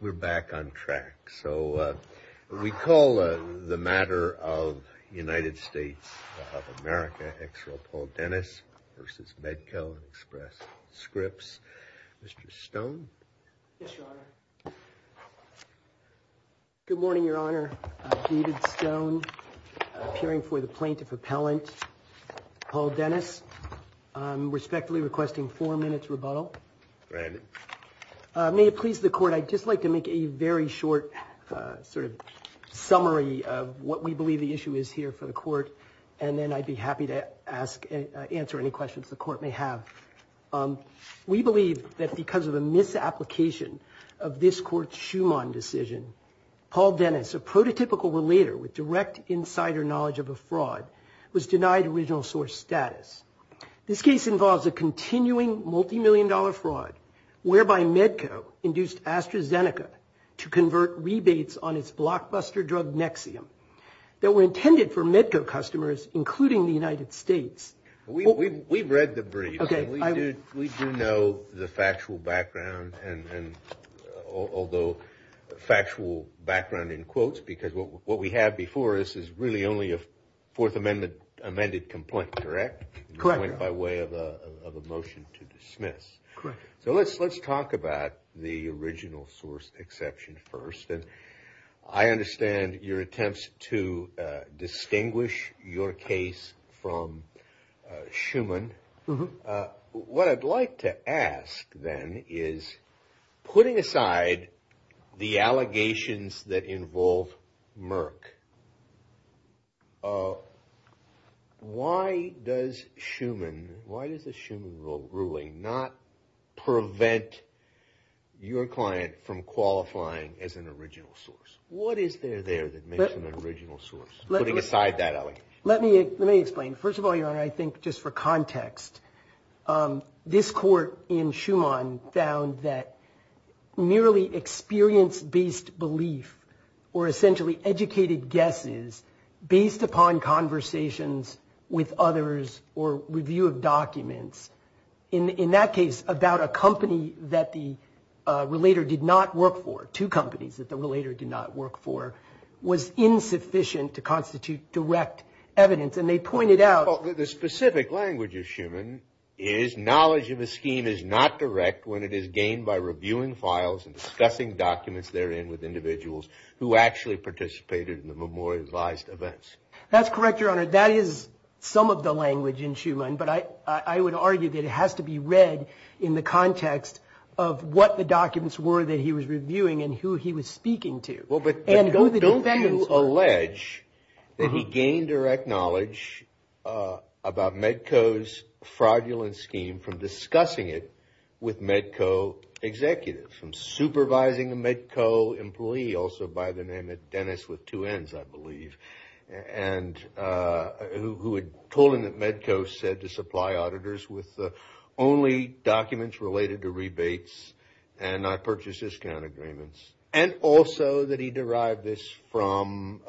We're back on track. So we call the matter of the United States of America, Exeral Paul Dennis v. Medco Express Scripts. Mr. Stone? Yes, Your Honor. Good morning, Your Honor. David Stone, appearing for the plaintiff appellant, Paul Dennis. Respectfully requesting four minutes rebuttal. Brandon? May it please the Court, I'd just like to make a very short sort of summary of what we believe the issue is here for the Court, and then I'd be happy to answer any questions the Court may have. We believe that because of a misapplication of this Court's Schumann decision, Paul Dennis, a prototypical relater with direct insider knowledge of a fraud, was denied original status. This case involves a continuing multi-million dollar fraud whereby Medco induced AstraZeneca to convert rebates on its blockbuster drug Nexium that were intended for Medco customers, including the United States. We've read the brief. We do know the factual background, and although factual background in quotes, because what we have before us is really a Fourth Amendment amended complaint, correct? Correct. By way of a motion to dismiss. Correct. So let's talk about the original source exception first, and I understand your attempts to distinguish your case from Schumann. What I'd like to ask then is, putting aside the allegations that involve Merck, why does Schumann, why does the Schumann ruling not prevent your client from qualifying as an original source? What is there there that makes an original source, putting aside that allegation? Let me explain. First of all, for context, this court in Schumann found that merely experience-based belief, or essentially educated guesses, based upon conversations with others or review of documents, in that case, about a company that the relater did not work for, two companies that the relater did not work for, was insufficient to constitute direct evidence, and they pointed out... Well, the specific language of Schumann is, knowledge of a scheme is not direct when it is gained by reviewing files and discussing documents therein with individuals who actually participated in the memorialized events. That's correct, Your Honor. That is some of the language in Schumann, but I would argue that it has to be read in the context of what the alleged that he gained direct knowledge about Medco's fraudulent scheme from discussing it with Medco executives, from supervising a Medco employee, also by the name of Dennis with two Ns, I believe, who had told him that Medco said to supply auditors with only documents related to from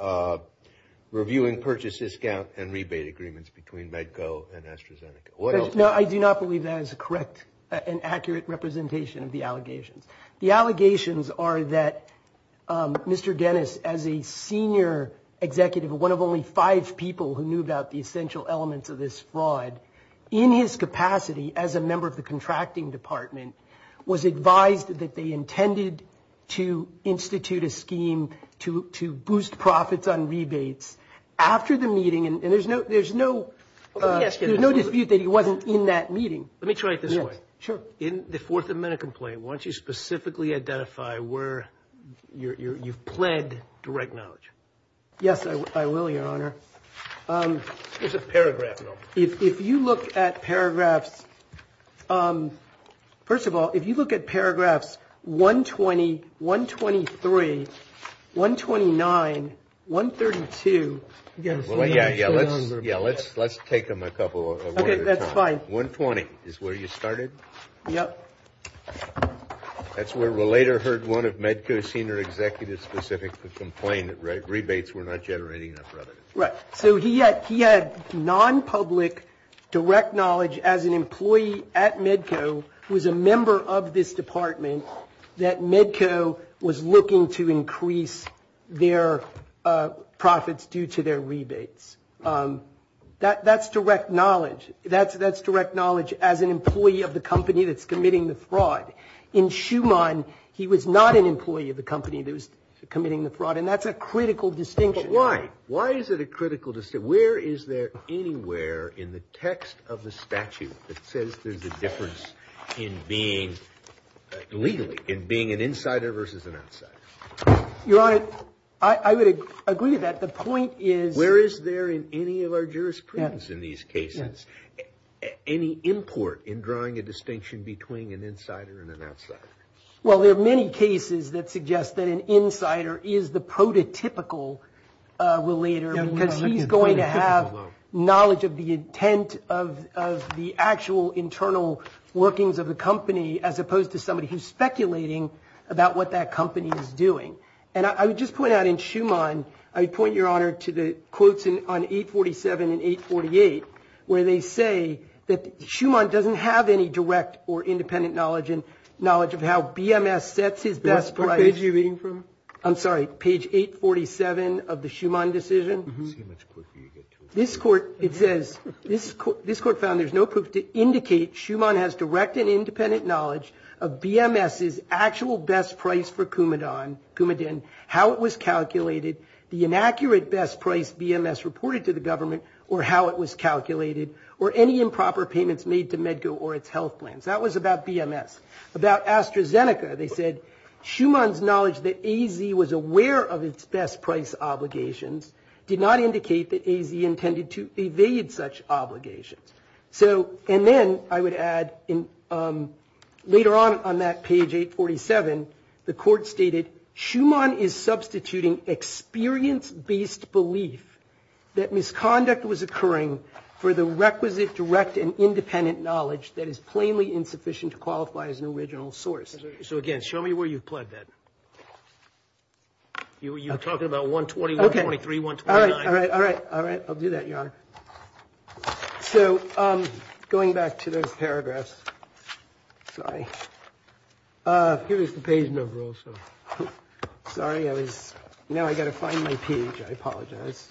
reviewing purchase discount and rebate agreements between Medco and AstraZeneca. No, I do not believe that is a correct and accurate representation of the allegations. The allegations are that Mr. Dennis, as a senior executive, one of only five people who knew about the essential elements of this fraud, in his capacity as a member of the contracting department, was advised that they intended to institute a scheme to boost profits on rebates after the meeting. And there's no dispute that he wasn't in that meeting. Let me try it this way. Sure. In the Fourth Amendment complaint, why don't you specifically identify where you've pled direct knowledge? Yes, I will, Your Honor. Here's a paragraph, though. If you look at paragraphs, first of all, if you look at paragraphs 120, 123, 129, 132. Yeah, let's take them a couple at a time. That's fine. 120 is where you started? Yep. That's where we later heard one of Medco senior executives specifically complained that rebates were not generating enough revenue. Right. So he had non-public direct knowledge as an employee at Medco who was a member of this department that Medco was looking to increase their profits due to their rebates. That's direct knowledge. That's direct knowledge as an employee of the company that's committing the fraud. In Schumann, he was not an employee of the company that was committing the fraud. And that's a critical distinction. Why is it a critical distinction? Where is there anywhere in the text of the statute that says there's a difference legally in being an insider versus an outsider? Your Honor, I would agree with that. The point is... Where is there in any of our jurisprudence in these cases any import in drawing a distinction between an insider and an outsider? Well, there are many cases that suggest that an insider is the prototypical relater because he's going to have knowledge of the intent of the actual internal workings of the company as opposed to somebody who's speculating about what that company is doing. And I would just point out in Schumann, I would point your Honor to the quotes on 847 and 848 where they say that Schumann doesn't have any direct or independent knowledge of how BMS sets his best price. What page are you reading from? I'm sorry, page 847 of the Schumann decision. Let's see how much quicker you get to it. This court, it says, this court found there's no proof to indicate Schumann has direct and independent knowledge of BMS's actual best price for Coumadin, how it was calculated, the inaccurate best price BMS reported to the government, or how it was calculated, or any improper payments made to Medco or its health plans. That was about BMS. About AstraZeneca, they said Schumann's knowledge that AZ was aware of its best price obligations did not indicate that AZ intended to evade such obligations. So, and then I would add later on on that page 847, the court stated Schumann is substituting experience-based belief that misconduct was occurring for the requisite direct and independent knowledge that is plainly insufficient to qualify as an original source. So again, show me where you've plugged that. You're talking about 121, 123, 129. All right, all right, all right, all right. I'll do that, Your Honor. So going back to those paragraphs, sorry. Here is the page number also. Sorry, I was, now I got to find my page. I apologize.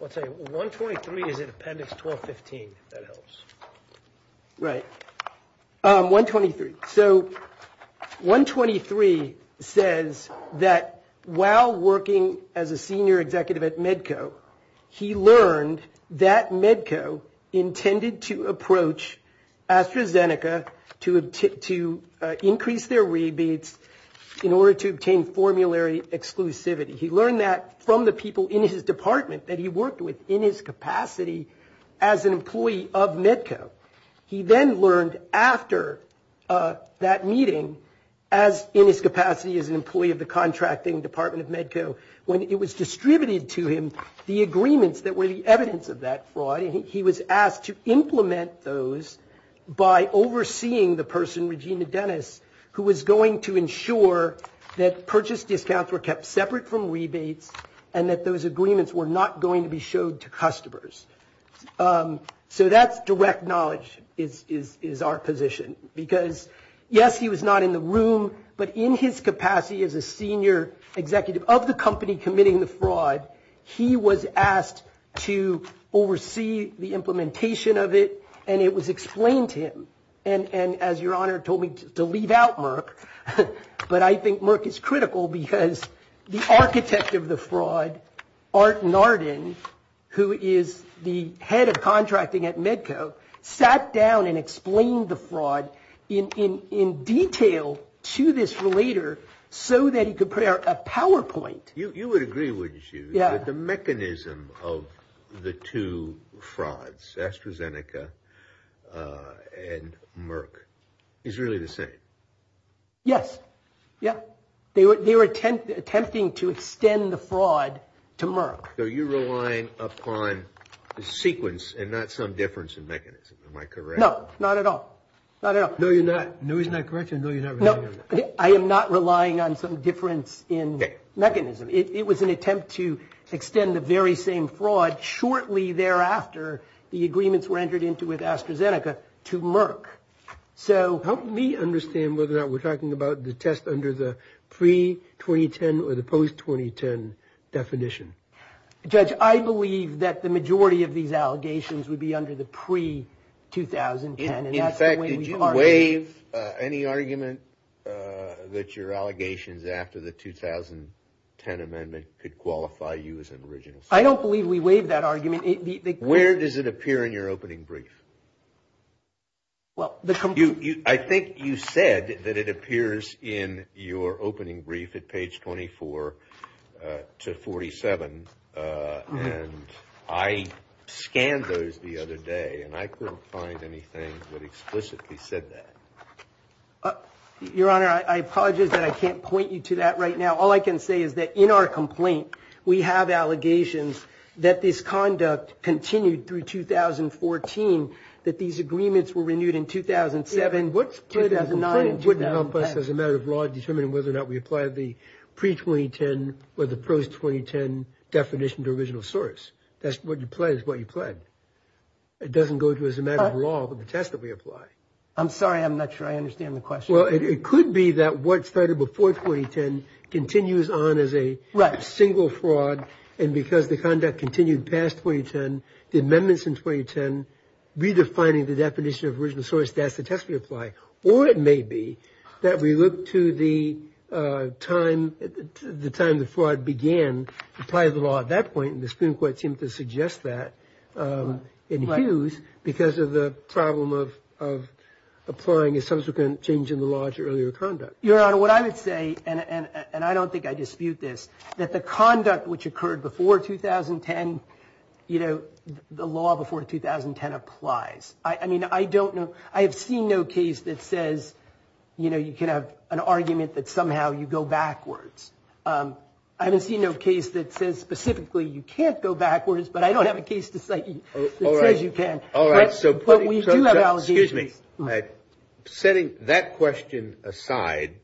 I'll tell you, 123 is in appendix 1215, if that helps. Right, 123. So 123 says that while working as a senior executive at Medco, he learned that Medco intended to approach AstraZeneca to increase their rebates in order to obtain formulary exclusivity. He learned that from the people in his department that he worked with in his capacity as an employee of Medco. He then learned after that meeting, as in his capacity as an employee of the contracting department of Medco, when it was distributed to him, the agreements that were the evidence of that fraud. He was asked to implement those by overseeing the person, Regina Dennis, who was going to ensure that purchase discounts were kept separate from rebates and that those agreements were not going to be showed to customers. So that's direct knowledge is our position. Because yes, he was not in the room. But in his capacity as a senior executive of the company committing the fraud, he was asked to oversee the implementation of it. And it was explained to him. And as your honor told me to leave out Merck, but I think Merck is critical because the architect of the fraud, Art Narden, who is the head of contracting at Medco, sat down and explained the fraud in detail to this relator so that he could prepare a PowerPoint. You would agree, wouldn't you, that the mechanism of the two frauds, AstraZeneca and Merck, is really the same? Yes. Yeah. They were attempting to extend the fraud to Merck. So you're relying upon the sequence and not some difference in mechanism. Am I correct? No. Not at all. Not at all. No, you're not. No, he's not correct. And no, you're not relying on that. I am not relying on some difference in mechanism. It was an attempt to extend the very same fraud shortly thereafter the agreements were entered into with AstraZeneca to Merck. So help me understand whether or not we're talking about the test under the pre-2010 or the post-2010 definition. Judge, I believe that the majority of these allegations would be under the pre-2010. In fact, did you waive any argument that your allegations after the 2010 amendment could qualify you as an original suspect? I don't believe we waived that argument. Where does it appear in your opening brief? I think you said that it appears in your opening brief at page 24 to 47. And I scanned those the other day, and I couldn't find anything that explicitly said that. Your Honor, I apologize that I can't point you to that right now. All I can say is that in our complaint, we have allegations that this conduct continued through 2014, that these agreements were renewed in 2007. Yeah, but what's the complaint that you can help us as a matter of law determining whether or not we apply the pre-2010 or the post-2010 definition to original source? That's what you pledged, what you pledged. It doesn't go to as a matter of law for the test that we apply. I'm sorry. I'm not sure I understand the question. Well, it could be that what started before 2010 continues on as a single fraud. And because the conduct continued past 2010, the amendments in 2010, redefining the definition of original source, that's the test we apply. Or it may be that we look to the time the fraud began to apply the law at that point, and the Supreme Court seemed to suggest that in Hughes because of the problem of applying a subsequent change in the law to earlier conduct. Your Honor, what I would say, and I don't think I dispute this, that the conduct which occurred before 2010, the law before 2010 applies. I mean, I don't know, I have seen no case that says, you know, you can have an argument that somehow you go backwards. I haven't seen no case that says specifically you can't go backwards, but I don't have a case to cite that says you can. All right. But we do have allegations. Excuse me. Setting that question aside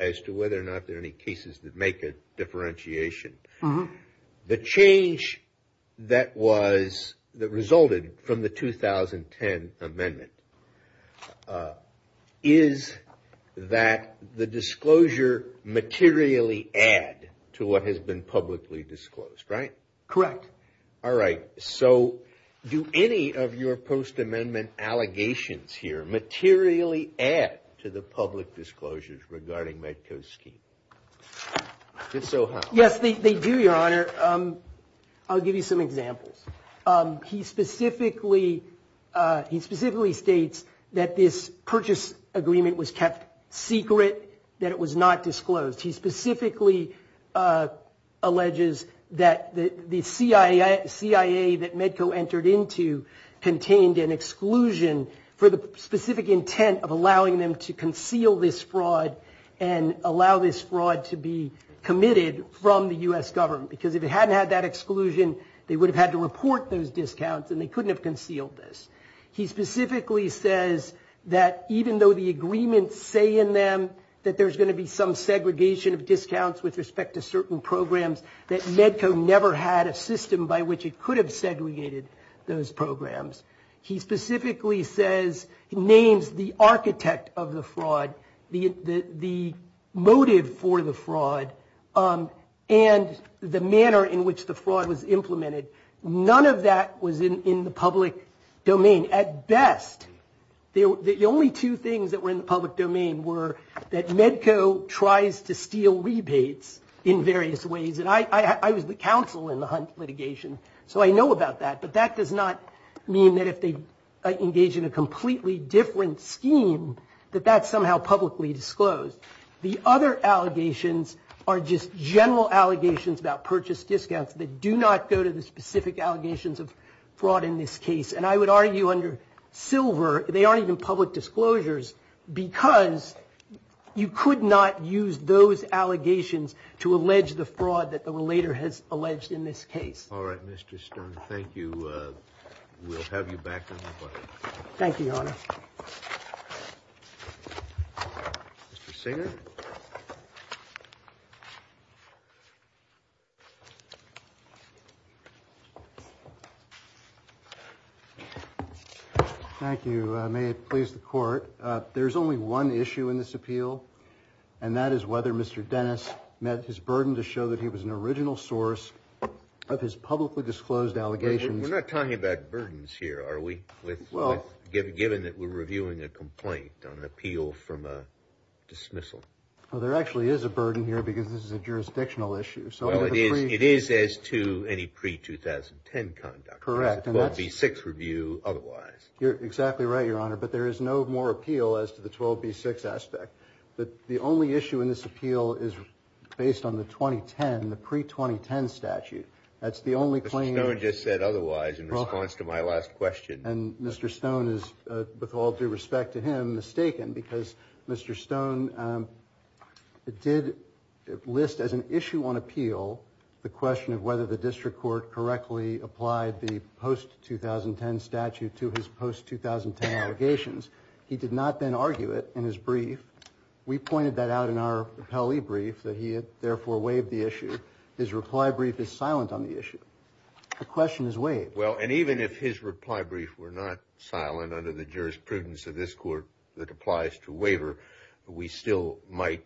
as to whether or not there are any cases that make a differentiation, the change that was, that resulted from the 2010 amendment, is that the disclosure materially add to what has been publicly disclosed, right? Correct. All right. So do any of your post-amendment allegations here materially add to the public disclosures regarding Medco's scheme? If so, how? Yes, they do, Your Honor. I'll give you some examples. He specifically states that this purchase agreement was kept secret, that it was not disclosed. He specifically alleges that the CIA that Medco entered into contained an exclusion for the specific intent of allowing them to conceal this fraud and allow this fraud to be committed from the U.S. government, because if it hadn't had that exclusion, they would have had to report those discounts and they couldn't have concealed this. He specifically says that even though the agreements say in them that there's going to be some segregation of discounts with respect to certain programs, that Medco never had a system by which it could have segregated those programs. He specifically says, he names the architect of the fraud, the motive for the fraud, and the manner in which the fraud was implemented. None of that was in the public domain. At best, the only two things that were in the public domain were that Medco tries to steal rebates in various ways. And I was the counsel in the Hunt litigation, so I know about that. But that does not mean that if they engage in a completely different scheme, that that's somehow publicly disclosed. The other allegations are just general allegations about purchase discounts that do not go to the specific allegations of fraud in this case. And I would argue under Silver, they aren't even public disclosures because you could not use those allegations to allege the fraud that the relator has alleged in this case. All right, Mr. Stern. Thank you. We'll have you back on the board. Thank you, Your Honor. Mr. Singer. Thank you. May it please the Court. There's only one issue in this appeal, and that is whether Mr. Dennis met his burden to show that he was an original source of his publicly disclosed allegations. We're not talking about burdens here, are we, given that we're reviewing a complaint on an appeal from a dismissal? Well, there actually is a burden here because this is a jurisdictional issue. Well, it is as to any pre-2010 conduct. Correct. It's a 12B6 review otherwise. You're exactly right, Your Honor. But there is no more appeal as to the 12B6 aspect. But the only issue in this appeal is based on the 2010, the pre-2010 statute. That's the only claim. Mr. Stone just said otherwise in response to my last question. And Mr. Stone is, with all due respect to him, mistaken because Mr. Stone did list as an issue on appeal the question of whether the district court correctly applied the post-2010 statute to his post-2010 allegations. He did not then argue it in his brief. We pointed that out in our rappellee brief that he had therefore waived the issue. His reply brief is silent on the issue. The question is waived. Well, and even if his reply brief were not silent under the jurisprudence of this court that applies to waiver, we still might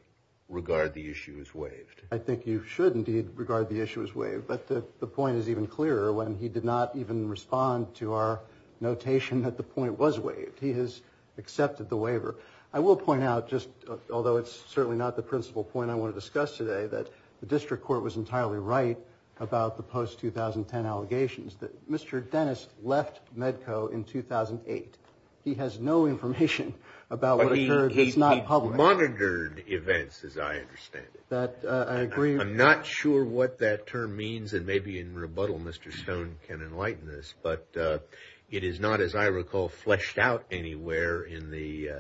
regard the issue as waived. I think you should indeed regard the issue as waived. But the point is even clearer when he did not even respond to our notation that the point was waived. He has accepted the waiver. I will point out just, although it's certainly not the principal point I want to discuss today, that the district court was entirely right about the post-2010 allegations. That Mr. Dennis left Medco in 2008. He has no information about what occurred that's not public. He monitored events, as I understand it. That, I agree. I'm not sure what that term means. And maybe in rebuttal, Mr. Stone can enlighten us. It is not, as I recall, fleshed out anywhere in the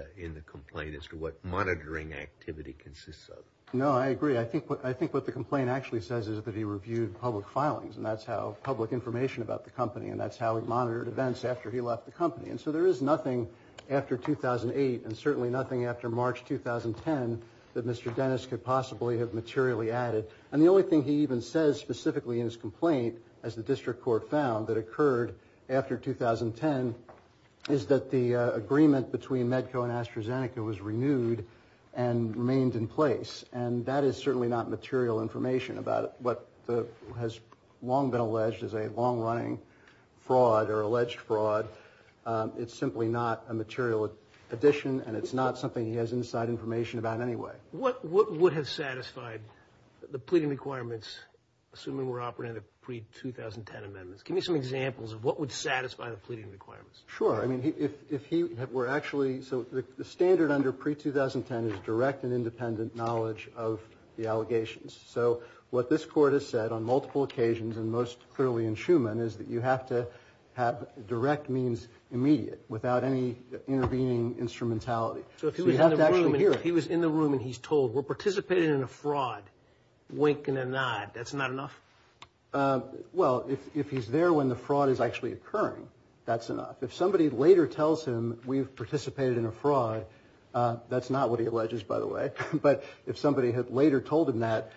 complaint as to what monitoring activity consists of. No, I agree. I think what the complaint actually says is that he reviewed public filings. And that's how public information about the company. And that's how he monitored events after he left the company. And so there is nothing after 2008, and certainly nothing after March 2010, that Mr. Dennis could possibly have materially added. And the only thing he even says specifically in his complaint, as the district court found, that occurred after 2010, is that the agreement between Medco and AstraZeneca was renewed and remained in place. And that is certainly not material information about what has long been alleged as a long-running fraud, or alleged fraud. It's simply not a material addition, and it's not something he has inside information about anyway. What would have satisfied the pleading requirements, assuming we're operating under pre-2010 amendments? Give me some examples of what would satisfy the pleading requirements. Sure. I mean, if he were actually, so the standard under pre-2010 is direct and independent knowledge of the allegations. So what this court has said on multiple occasions, and most clearly in Schuman, is that you have to have direct means immediate, without any intervening instrumentality. So if he was in the room and he's told, we're participating in a fraud, wink and a nod, that's not enough? Well, if he's there when the fraud is actually occurring, that's enough. If somebody later tells him, we've participated in a fraud, that's not what he alleges, by the way. But if somebody had later told him that,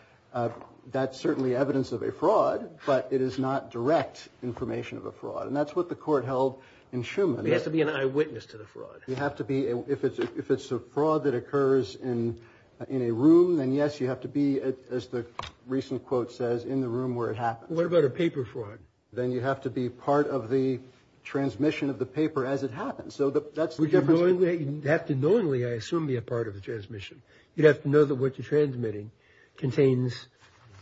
that's certainly evidence of a fraud, but it is not direct information of a fraud. And that's what the court held in Schuman. There has to be an eyewitness to the fraud. You have to be, if it's a fraud that occurs in a room, then yes, you have to be, as the recent quote says, in the room where it happens. What about a paper fraud? Then you have to be part of the transmission of the paper as it happens. So that's the difference. You'd have to knowingly, I assume, be a part of the transmission. You'd have to know that what you're transmitting contains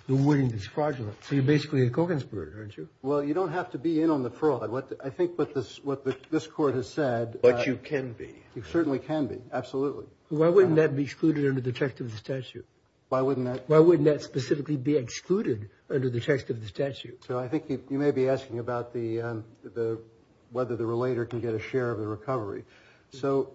the wording that's fraudulent. So you're basically a co-conspirator, aren't you? Well, you don't have to be in on the fraud. I think what this court has said. But you can be. You certainly can be, absolutely. Why wouldn't that be excluded under the effect of the statute? Why wouldn't that? Specifically be excluded under the text of the statute. So I think you may be asking about whether the relator can get a share of the recovery. So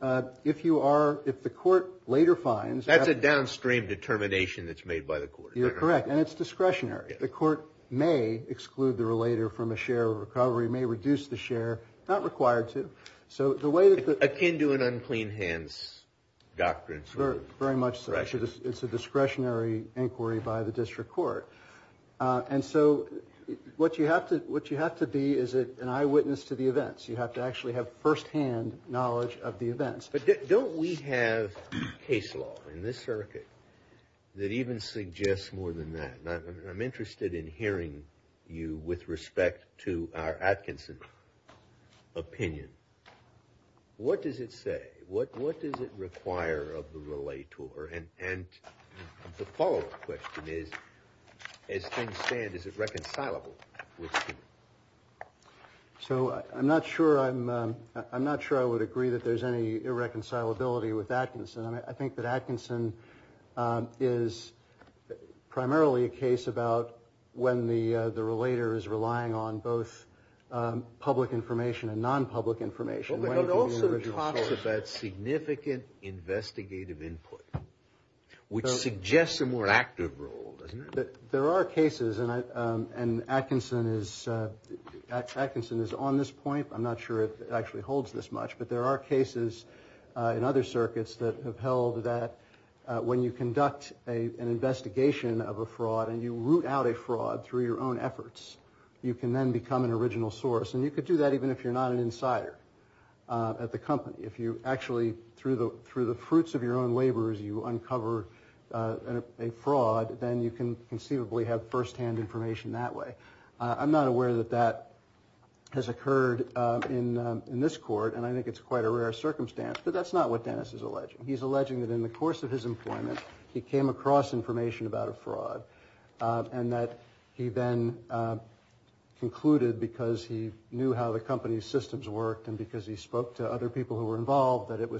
if you are, if the court later finds. That's a downstream determination that's made by the court. You're correct. And it's discretionary. The court may exclude the relator from a share of recovery, may reduce the share. Not required to. So the way that. Akin to an unclean hands doctrine. Very much so. It's a discretionary inquiry by the district court. And so what you have to be is an eyewitness to the events. You have to actually have firsthand knowledge of the events. But don't we have case law in this circuit that even suggests more than that? I'm interested in hearing you with respect to our Atkinson opinion. What does it say? What does it require of the relator? And the follow up question is, as things stand, is it reconcilable? So I'm not sure I'm not sure I would agree that there's any irreconcilability with Atkinson. I think that Atkinson is primarily a case about when the relator is relying on both public information and non-public information. It also talks about significant investigative input, which suggests a more active role, doesn't it? There are cases, and Atkinson is on this point. I'm not sure it actually holds this much. But there are cases in other circuits that have held that when you conduct an investigation of a fraud and you root out a fraud through your own efforts, you can then become an original source. And you could do that even if you're not an insider at the company. If you actually, through the fruits of your own labors, you uncover a fraud, then you can conceivably have firsthand information that way. I'm not aware that that has occurred in this court. And I think it's quite a rare circumstance. But that's not what Dennis is alleging. He's alleging that in the course of his employment, he came across information about a fraud. And that he then concluded, because he knew how the company's systems worked and because he spoke to other people who were involved, that it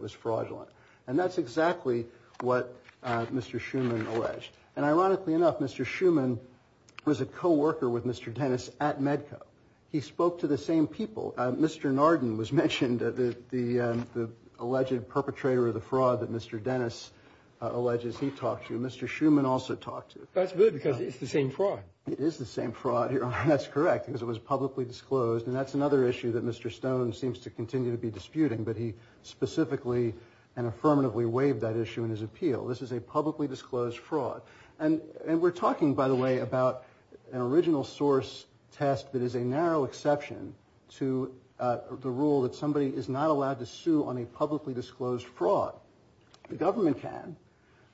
was fraudulent. And that's exactly what Mr. Schuman alleged. And ironically enough, Mr. Schuman was a co-worker with Mr. Dennis at Medco. He spoke to the same people. Mr. Narden was mentioned, the alleged perpetrator of the fraud that Mr. Dennis alleges he talked to. Mr. Schuman also talked to. That's good, because it's the same fraud. It is the same fraud, Your Honor. That's correct, because it was publicly disclosed. And that's another issue that Mr. Stone seems to continue to be disputing. But he specifically and affirmatively waived that issue in his appeal. This is a publicly disclosed fraud. And we're talking, by the way, about an original source test that is a narrow exception to the rule that somebody is not allowed to sue on a publicly disclosed fraud. The government can.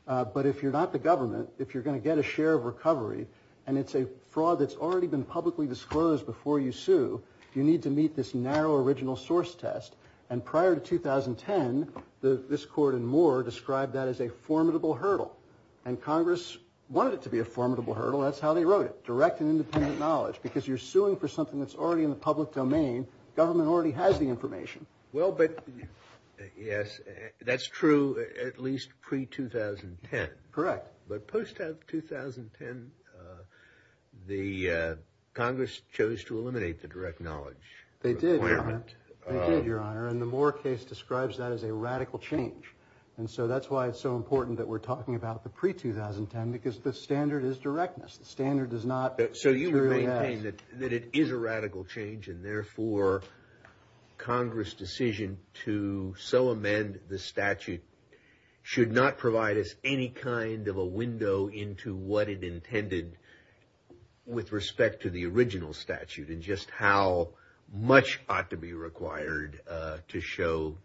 But if you're not the government, if you're going to get a share of recovery, and it's a fraud that's already been publicly disclosed before you sue, you need to meet this narrow original source test. And prior to 2010, this court and more described that as a formidable hurdle. And Congress wanted it to be a formidable hurdle. That's how they wrote it, direct and independent knowledge. Because you're suing for something that's already in the public domain. Government already has the information. Well, but yes, that's true at least pre-2010. Correct. But post-2010, the Congress chose to eliminate the direct knowledge. They did, Your Honor. And the Moore case describes that as a radical change. And so that's why it's so important that we're talking about the pre-2010, because the standard is directness. The standard does not. So you maintain that it is a radical change. And therefore, Congress' decision to so amend the statute should not provide us any kind of a window into what it intended with respect to the original statute. And just how much ought to be required to show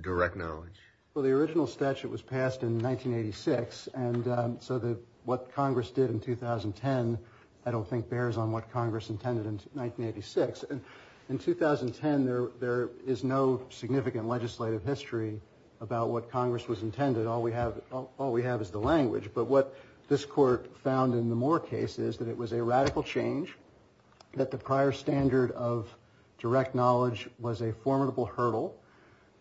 direct knowledge. Well, the original statute was passed in 1986. And so what Congress did in 2010, I don't think bears on what Congress intended in 1986. And in 2010, there is no significant legislative history about what Congress was intended. All we have is the language. But what this court found in the Moore case is that it was a radical change, that the prior standard of direct knowledge was a formidable hurdle,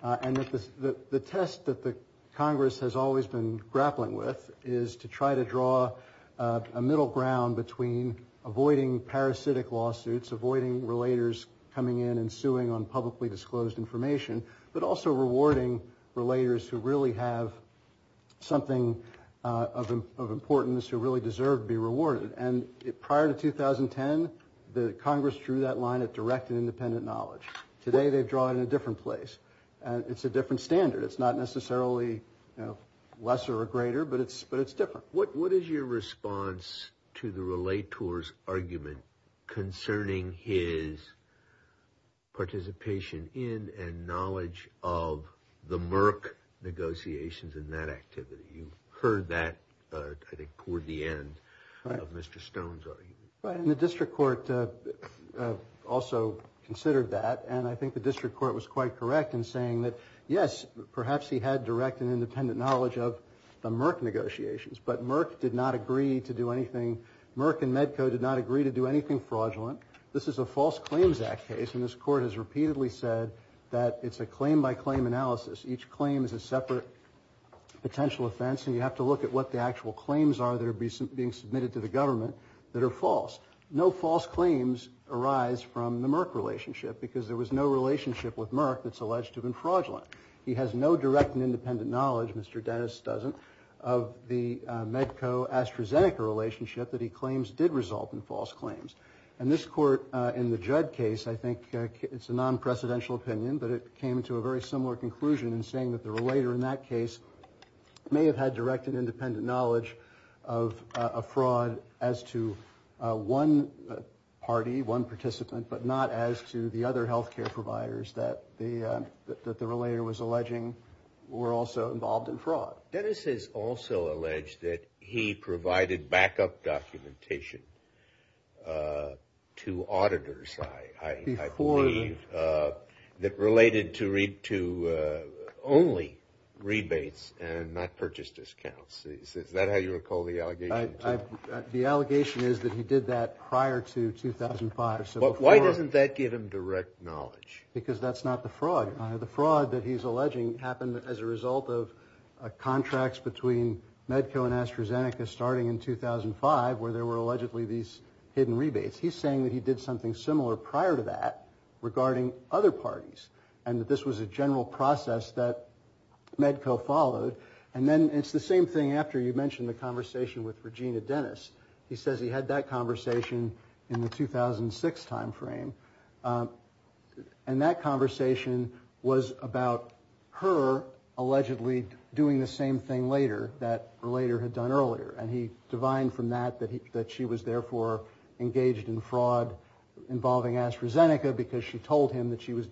and that the test that the Congress has always been grappling with is to try to draw a middle ground between avoiding parasitic lawsuits, avoiding relators coming in and suing on publicly disclosed information, but also rewarding relators who really have something of importance, who really deserve to be rewarded. And prior to 2010, the Congress drew that line at direct and independent knowledge. Today, they draw it in a different place. It's a different standard. It's not necessarily lesser or greater, but it's different. What is your response to the relator's argument concerning his participation in and knowledge of the Merck negotiations and that activity? You heard that, I think, toward the end of Mr. Stone's argument. And the district court also considered that. And I think the district court was quite correct in saying that, yes, perhaps he had direct and independent knowledge of the Merck negotiations, but Merck did not agree to do anything. Merck and Medco did not agree to do anything fraudulent. This is a False Claims Act case. And this court has repeatedly said that it's a claim-by-claim analysis. Each claim is a separate potential offense. And you have to look at what the actual claims are that are being submitted to the government that are false. No false claims arise from the Merck relationship, because there was no relationship with Merck that's alleged to have been fraudulent. He has no direct and independent knowledge, Mr. Dennis doesn't, of the Medco-AstraZeneca relationship that he claims did result in false claims. And this court, in the Judd case, I think it's a non-precedential opinion, but it came to a very similar conclusion in saying that the relator in that case may have had direct and independent knowledge of a fraud as to one party, one participant, but not as to the other health care providers that the relator was alleging were also involved in fraud. Dennis has also alleged that he provided backup documentation to auditors, I believe, that related to only rebates and not purchase discounts. Is that how you recall the allegation? The allegation is that he did that prior to 2005. Why doesn't that give him direct knowledge? Because that's not the fraud. The fraud that he's alleging happened as a result of contracts between Medco and AstraZeneca starting in 2005, where there were allegedly these hidden rebates. He's saying that he did something similar prior to that regarding other parties, and that this was a general process that Medco followed. And then it's the same thing after you mentioned the conversation with Regina Dennis. He says he had that conversation in the 2006 time frame. And that conversation was about her allegedly doing the same thing later, that the relator had done earlier. And he divined from that that she was therefore engaged in fraud involving AstraZeneca, because she told him that she was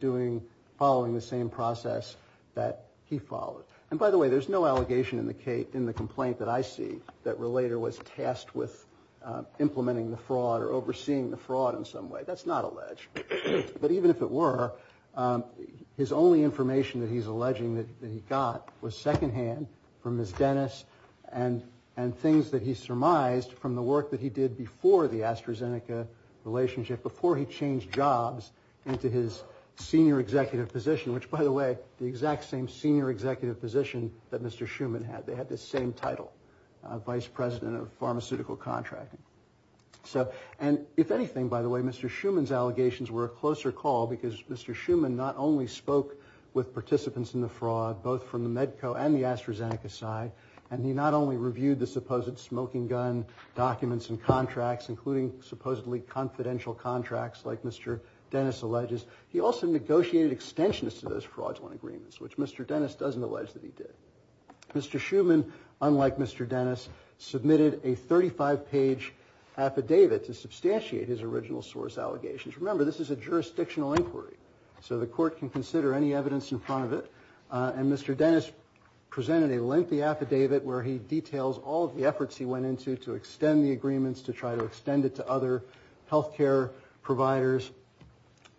following the same process that he followed. And by the way, there's no allegation in the complaint that I see that relator was tasked with implementing the fraud or overseeing the fraud in some way. That's not alleged. But even if it were, his only information that he's alleging that he got was secondhand from Ms. Dennis and things that he surmised from the work that he did before the AstraZeneca relationship, before he changed jobs into his senior executive position, which by the way, the exact same senior executive position that Mr. Schuman had. They had the same title, vice president of pharmaceutical contracting. And if anything, by the way, Mr. Schuman's allegations were a closer call, because Mr. Schuman not only spoke with participants in the fraud, both from the Medco and the AstraZeneca side, and he not only reviewed the supposed smoking gun documents and contracts, including supposedly confidential contracts like Mr. Dennis alleges, he also negotiated extensions to those fraudulent agreements, which Mr. Dennis doesn't allege that he did. Mr. Schuman, unlike Mr. Dennis, submitted a 35-page affidavit to substantiate his original source allegations. Remember, this is a jurisdictional inquiry, so the court can consider any evidence in front of it and Mr. Dennis presented a lengthy affidavit where he details all of the efforts he went into to extend the agreements, to try to extend it to other health care providers.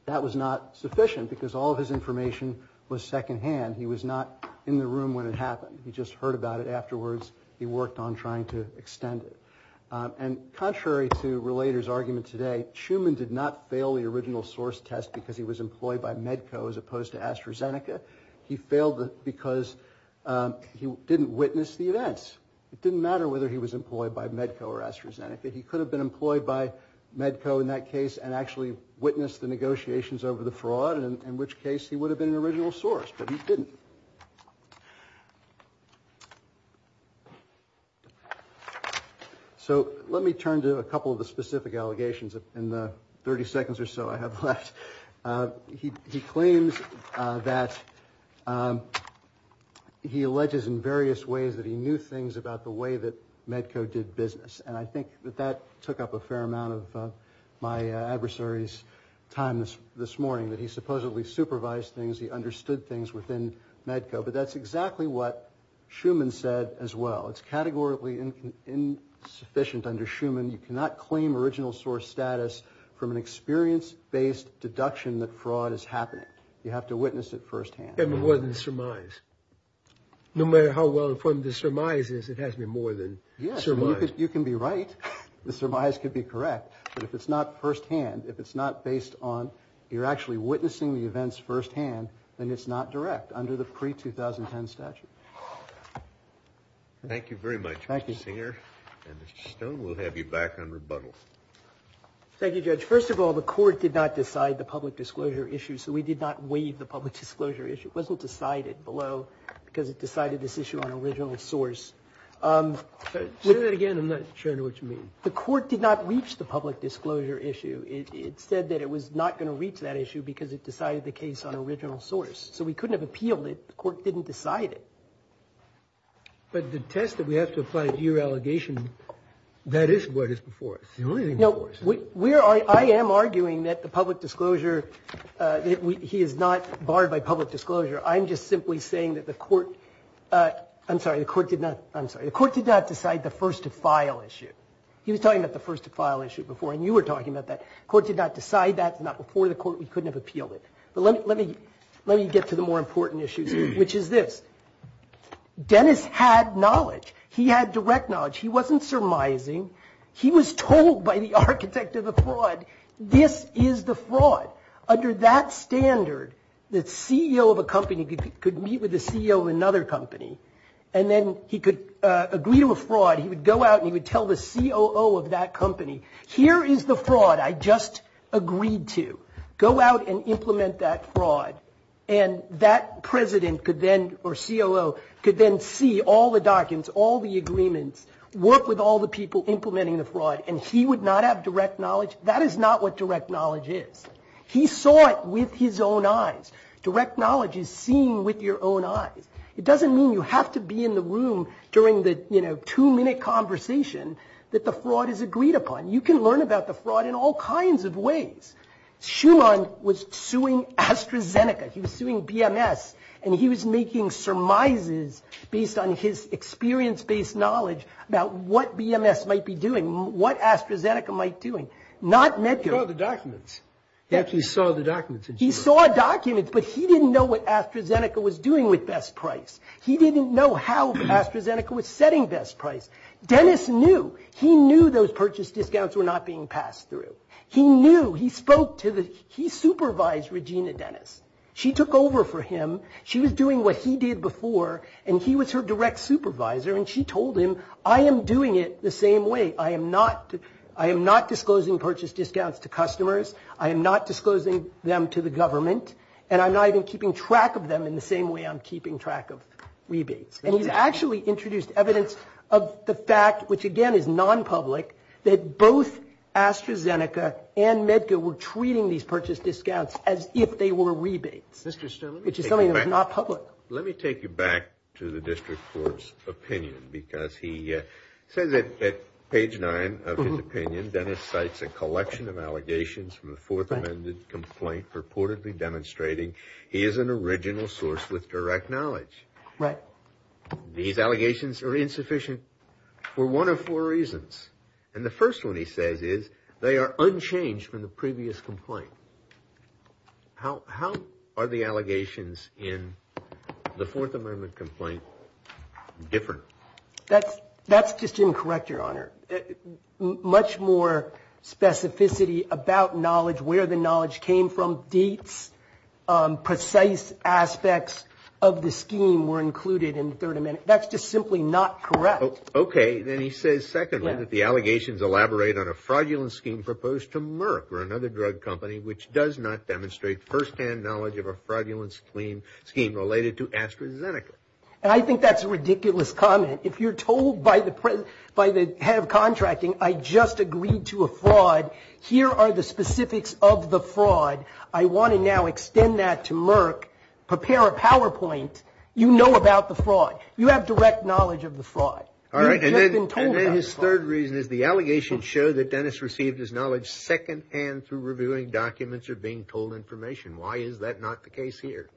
That was not sufficient, because all of his information was secondhand. He was not in the room when it happened. He just heard about it afterwards. He worked on trying to extend it. And contrary to Relator's argument today, Schuman did not fail the original source test because he was employed by Medco as opposed to AstraZeneca. He failed because he didn't witness the events. It didn't matter whether he was employed by Medco or AstraZeneca. He could have been employed by Medco in that case and actually witnessed the negotiations over the fraud, in which case he would have been an original source, but he didn't. So let me turn to a couple of the specific allegations in the 30 seconds or so I have left. He claims that he alleges in various ways that he knew things about the way that Medco did business. And I think that that took up a fair amount of my adversary's time this morning, that he supposedly supervised things, he understood things within Medco. But that's exactly what Schuman said as well. It's categorically insufficient under Schuman. You cannot claim original source status from an experience-based deduction that fraud is happening. You have to witness it firsthand. And more than surmise. No matter how well informed the surmise is, it has to be more than surmise. You can be right. The surmise could be correct. But if it's not firsthand, if it's not based on, you're actually witnessing the events firsthand, then it's not direct under the pre-2010 statute. Thank you very much, Mr. Singer. And Mr. Stone, we'll have you back on rebuttal. Thank you, Judge. First of all, the court did not decide the public disclosure issue. So we did not waive the public disclosure issue. It wasn't decided below because it decided this issue on original source. Say that again. I'm not sure I know what you mean. The court did not reach the public disclosure issue. It said that it was not going to reach that issue because it decided the case on original source. So we couldn't have appealed it. The court didn't decide it. But the test that we have to apply to your allegation, that is what is before us. No, I am arguing that the public disclosure, he is not barred by public disclosure. I'm just simply saying that the court, I'm sorry, the court did not, I'm sorry, the court did not decide the first to file issue. He was talking about the first to file issue before, and you were talking about that. Court did not decide that. It's not before the court. We couldn't have appealed it. But let me get to the more important issues, which is this. Dennis had knowledge. He had direct knowledge. He wasn't surmising. He was told by the architect of the fraud, this is the fraud. Under that standard, the CEO of a company could meet with the CEO of another company, and then he could agree to a fraud. He would go out and he would tell the COO of that company, here is the fraud I just agreed to. Go out and implement that fraud. And that president could then, or COO, could then see all the documents, all the agreements, work with all the people implementing the fraud, and he would not have direct knowledge. That is not what direct knowledge is. He saw it with his own eyes. Direct knowledge is seen with your own eyes. It doesn't mean you have to be in the room during the two-minute conversation that the fraud is agreed upon. You can learn about the fraud in all kinds of ways. Schumann was suing AstraZeneca. He was suing BMS. And he was making surmises based on his experience-based knowledge about what BMS might be doing, what AstraZeneca might be doing. Not Medicare. He saw the documents. He actually saw the documents. He saw documents, but he didn't know what AstraZeneca was doing with best price. He didn't know how AstraZeneca was setting best price. Dennis knew. He knew those purchase discounts were not being passed through. He knew. He spoke to the... He supervised Regina Dennis. She took over for him. She was doing what he did before. And he was her direct supervisor. And she told him, I am doing it the same way. I am not disclosing purchase discounts to customers. I am not disclosing them to the government. And I'm not even keeping track of them in the same way I'm keeping track of rebates. And he's actually introduced evidence of the fact, which again is non-public, that both AstraZeneca and Medgar were treating these purchase discounts as if they were rebates. Mr. Sterling... Which is something that's not public. Let me take you back to the district court's opinion. Because he says that at page nine of his opinion, Dennis cites a collection of allegations from the fourth amended complaint, purportedly demonstrating he is an original source with direct knowledge. Right. These allegations are insufficient for one of four reasons. And the first one he says is they are unchanged from the previous complaint. How are the allegations in the fourth amendment complaint different? That's just incorrect, your honor. Much more specificity about knowledge, where the knowledge came from, dates, precise aspects of the scheme were included in the third amendment. That's just simply not correct. Okay. Then he says, secondly, that the allegations elaborate on a fraudulent scheme proposed to Merck or another drug company, which does not demonstrate firsthand knowledge of a fraudulent scheme related to AstraZeneca. And I think that's a ridiculous comment. If you're told by the head of contracting, I just agreed to a fraud, here are the specifics of the fraud. I want to now extend that to Merck, prepare a PowerPoint. You know about the fraud. You have direct knowledge of the fraud. All right, and then his third reason is the allegations show that Dennis received his knowledge secondhand through reviewing documents or being told information. Why is that not the case here?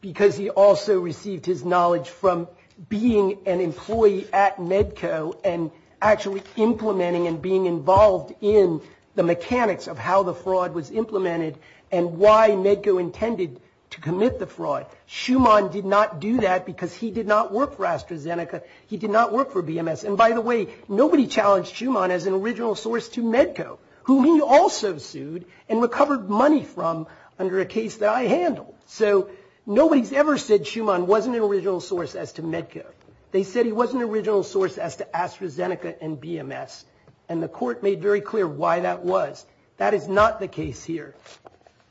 Because he also received his knowledge from being an employee at Medco and actually implementing and being involved in the mechanics of how the fraud was implemented and why Medco intended to commit the fraud. Schumann did not do that because he did not work for AstraZeneca. He did not work for BMS. And by the way, nobody challenged Schumann as an original source to Medco, whom he also sued and recovered money from under a case that I handled. So nobody's ever said Schumann wasn't an original source as to Medco. They said he wasn't an original source as to AstraZeneca and BMS. And the court made very clear why that was. That is not the case here.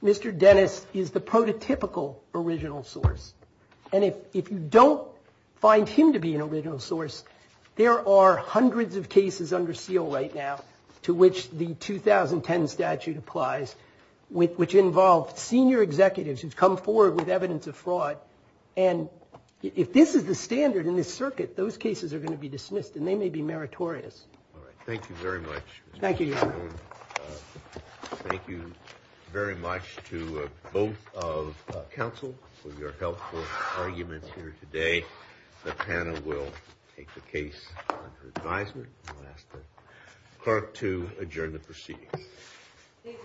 Mr. Dennis is the prototypical original source. And if you don't find him to be an original source, there are hundreds of cases under seal right now to which the 2010 statute applies, which involved senior executives who've come forward with evidence of fraud. And if this is the standard in this circuit, those cases are going to be dismissed, and they may be meritorious. All right. Thank you very much. Thank you. And thank you very much to both of counsel for your helpful arguments here today. The panel will take the case under advisement. And I'll ask the clerk to adjourn the proceedings.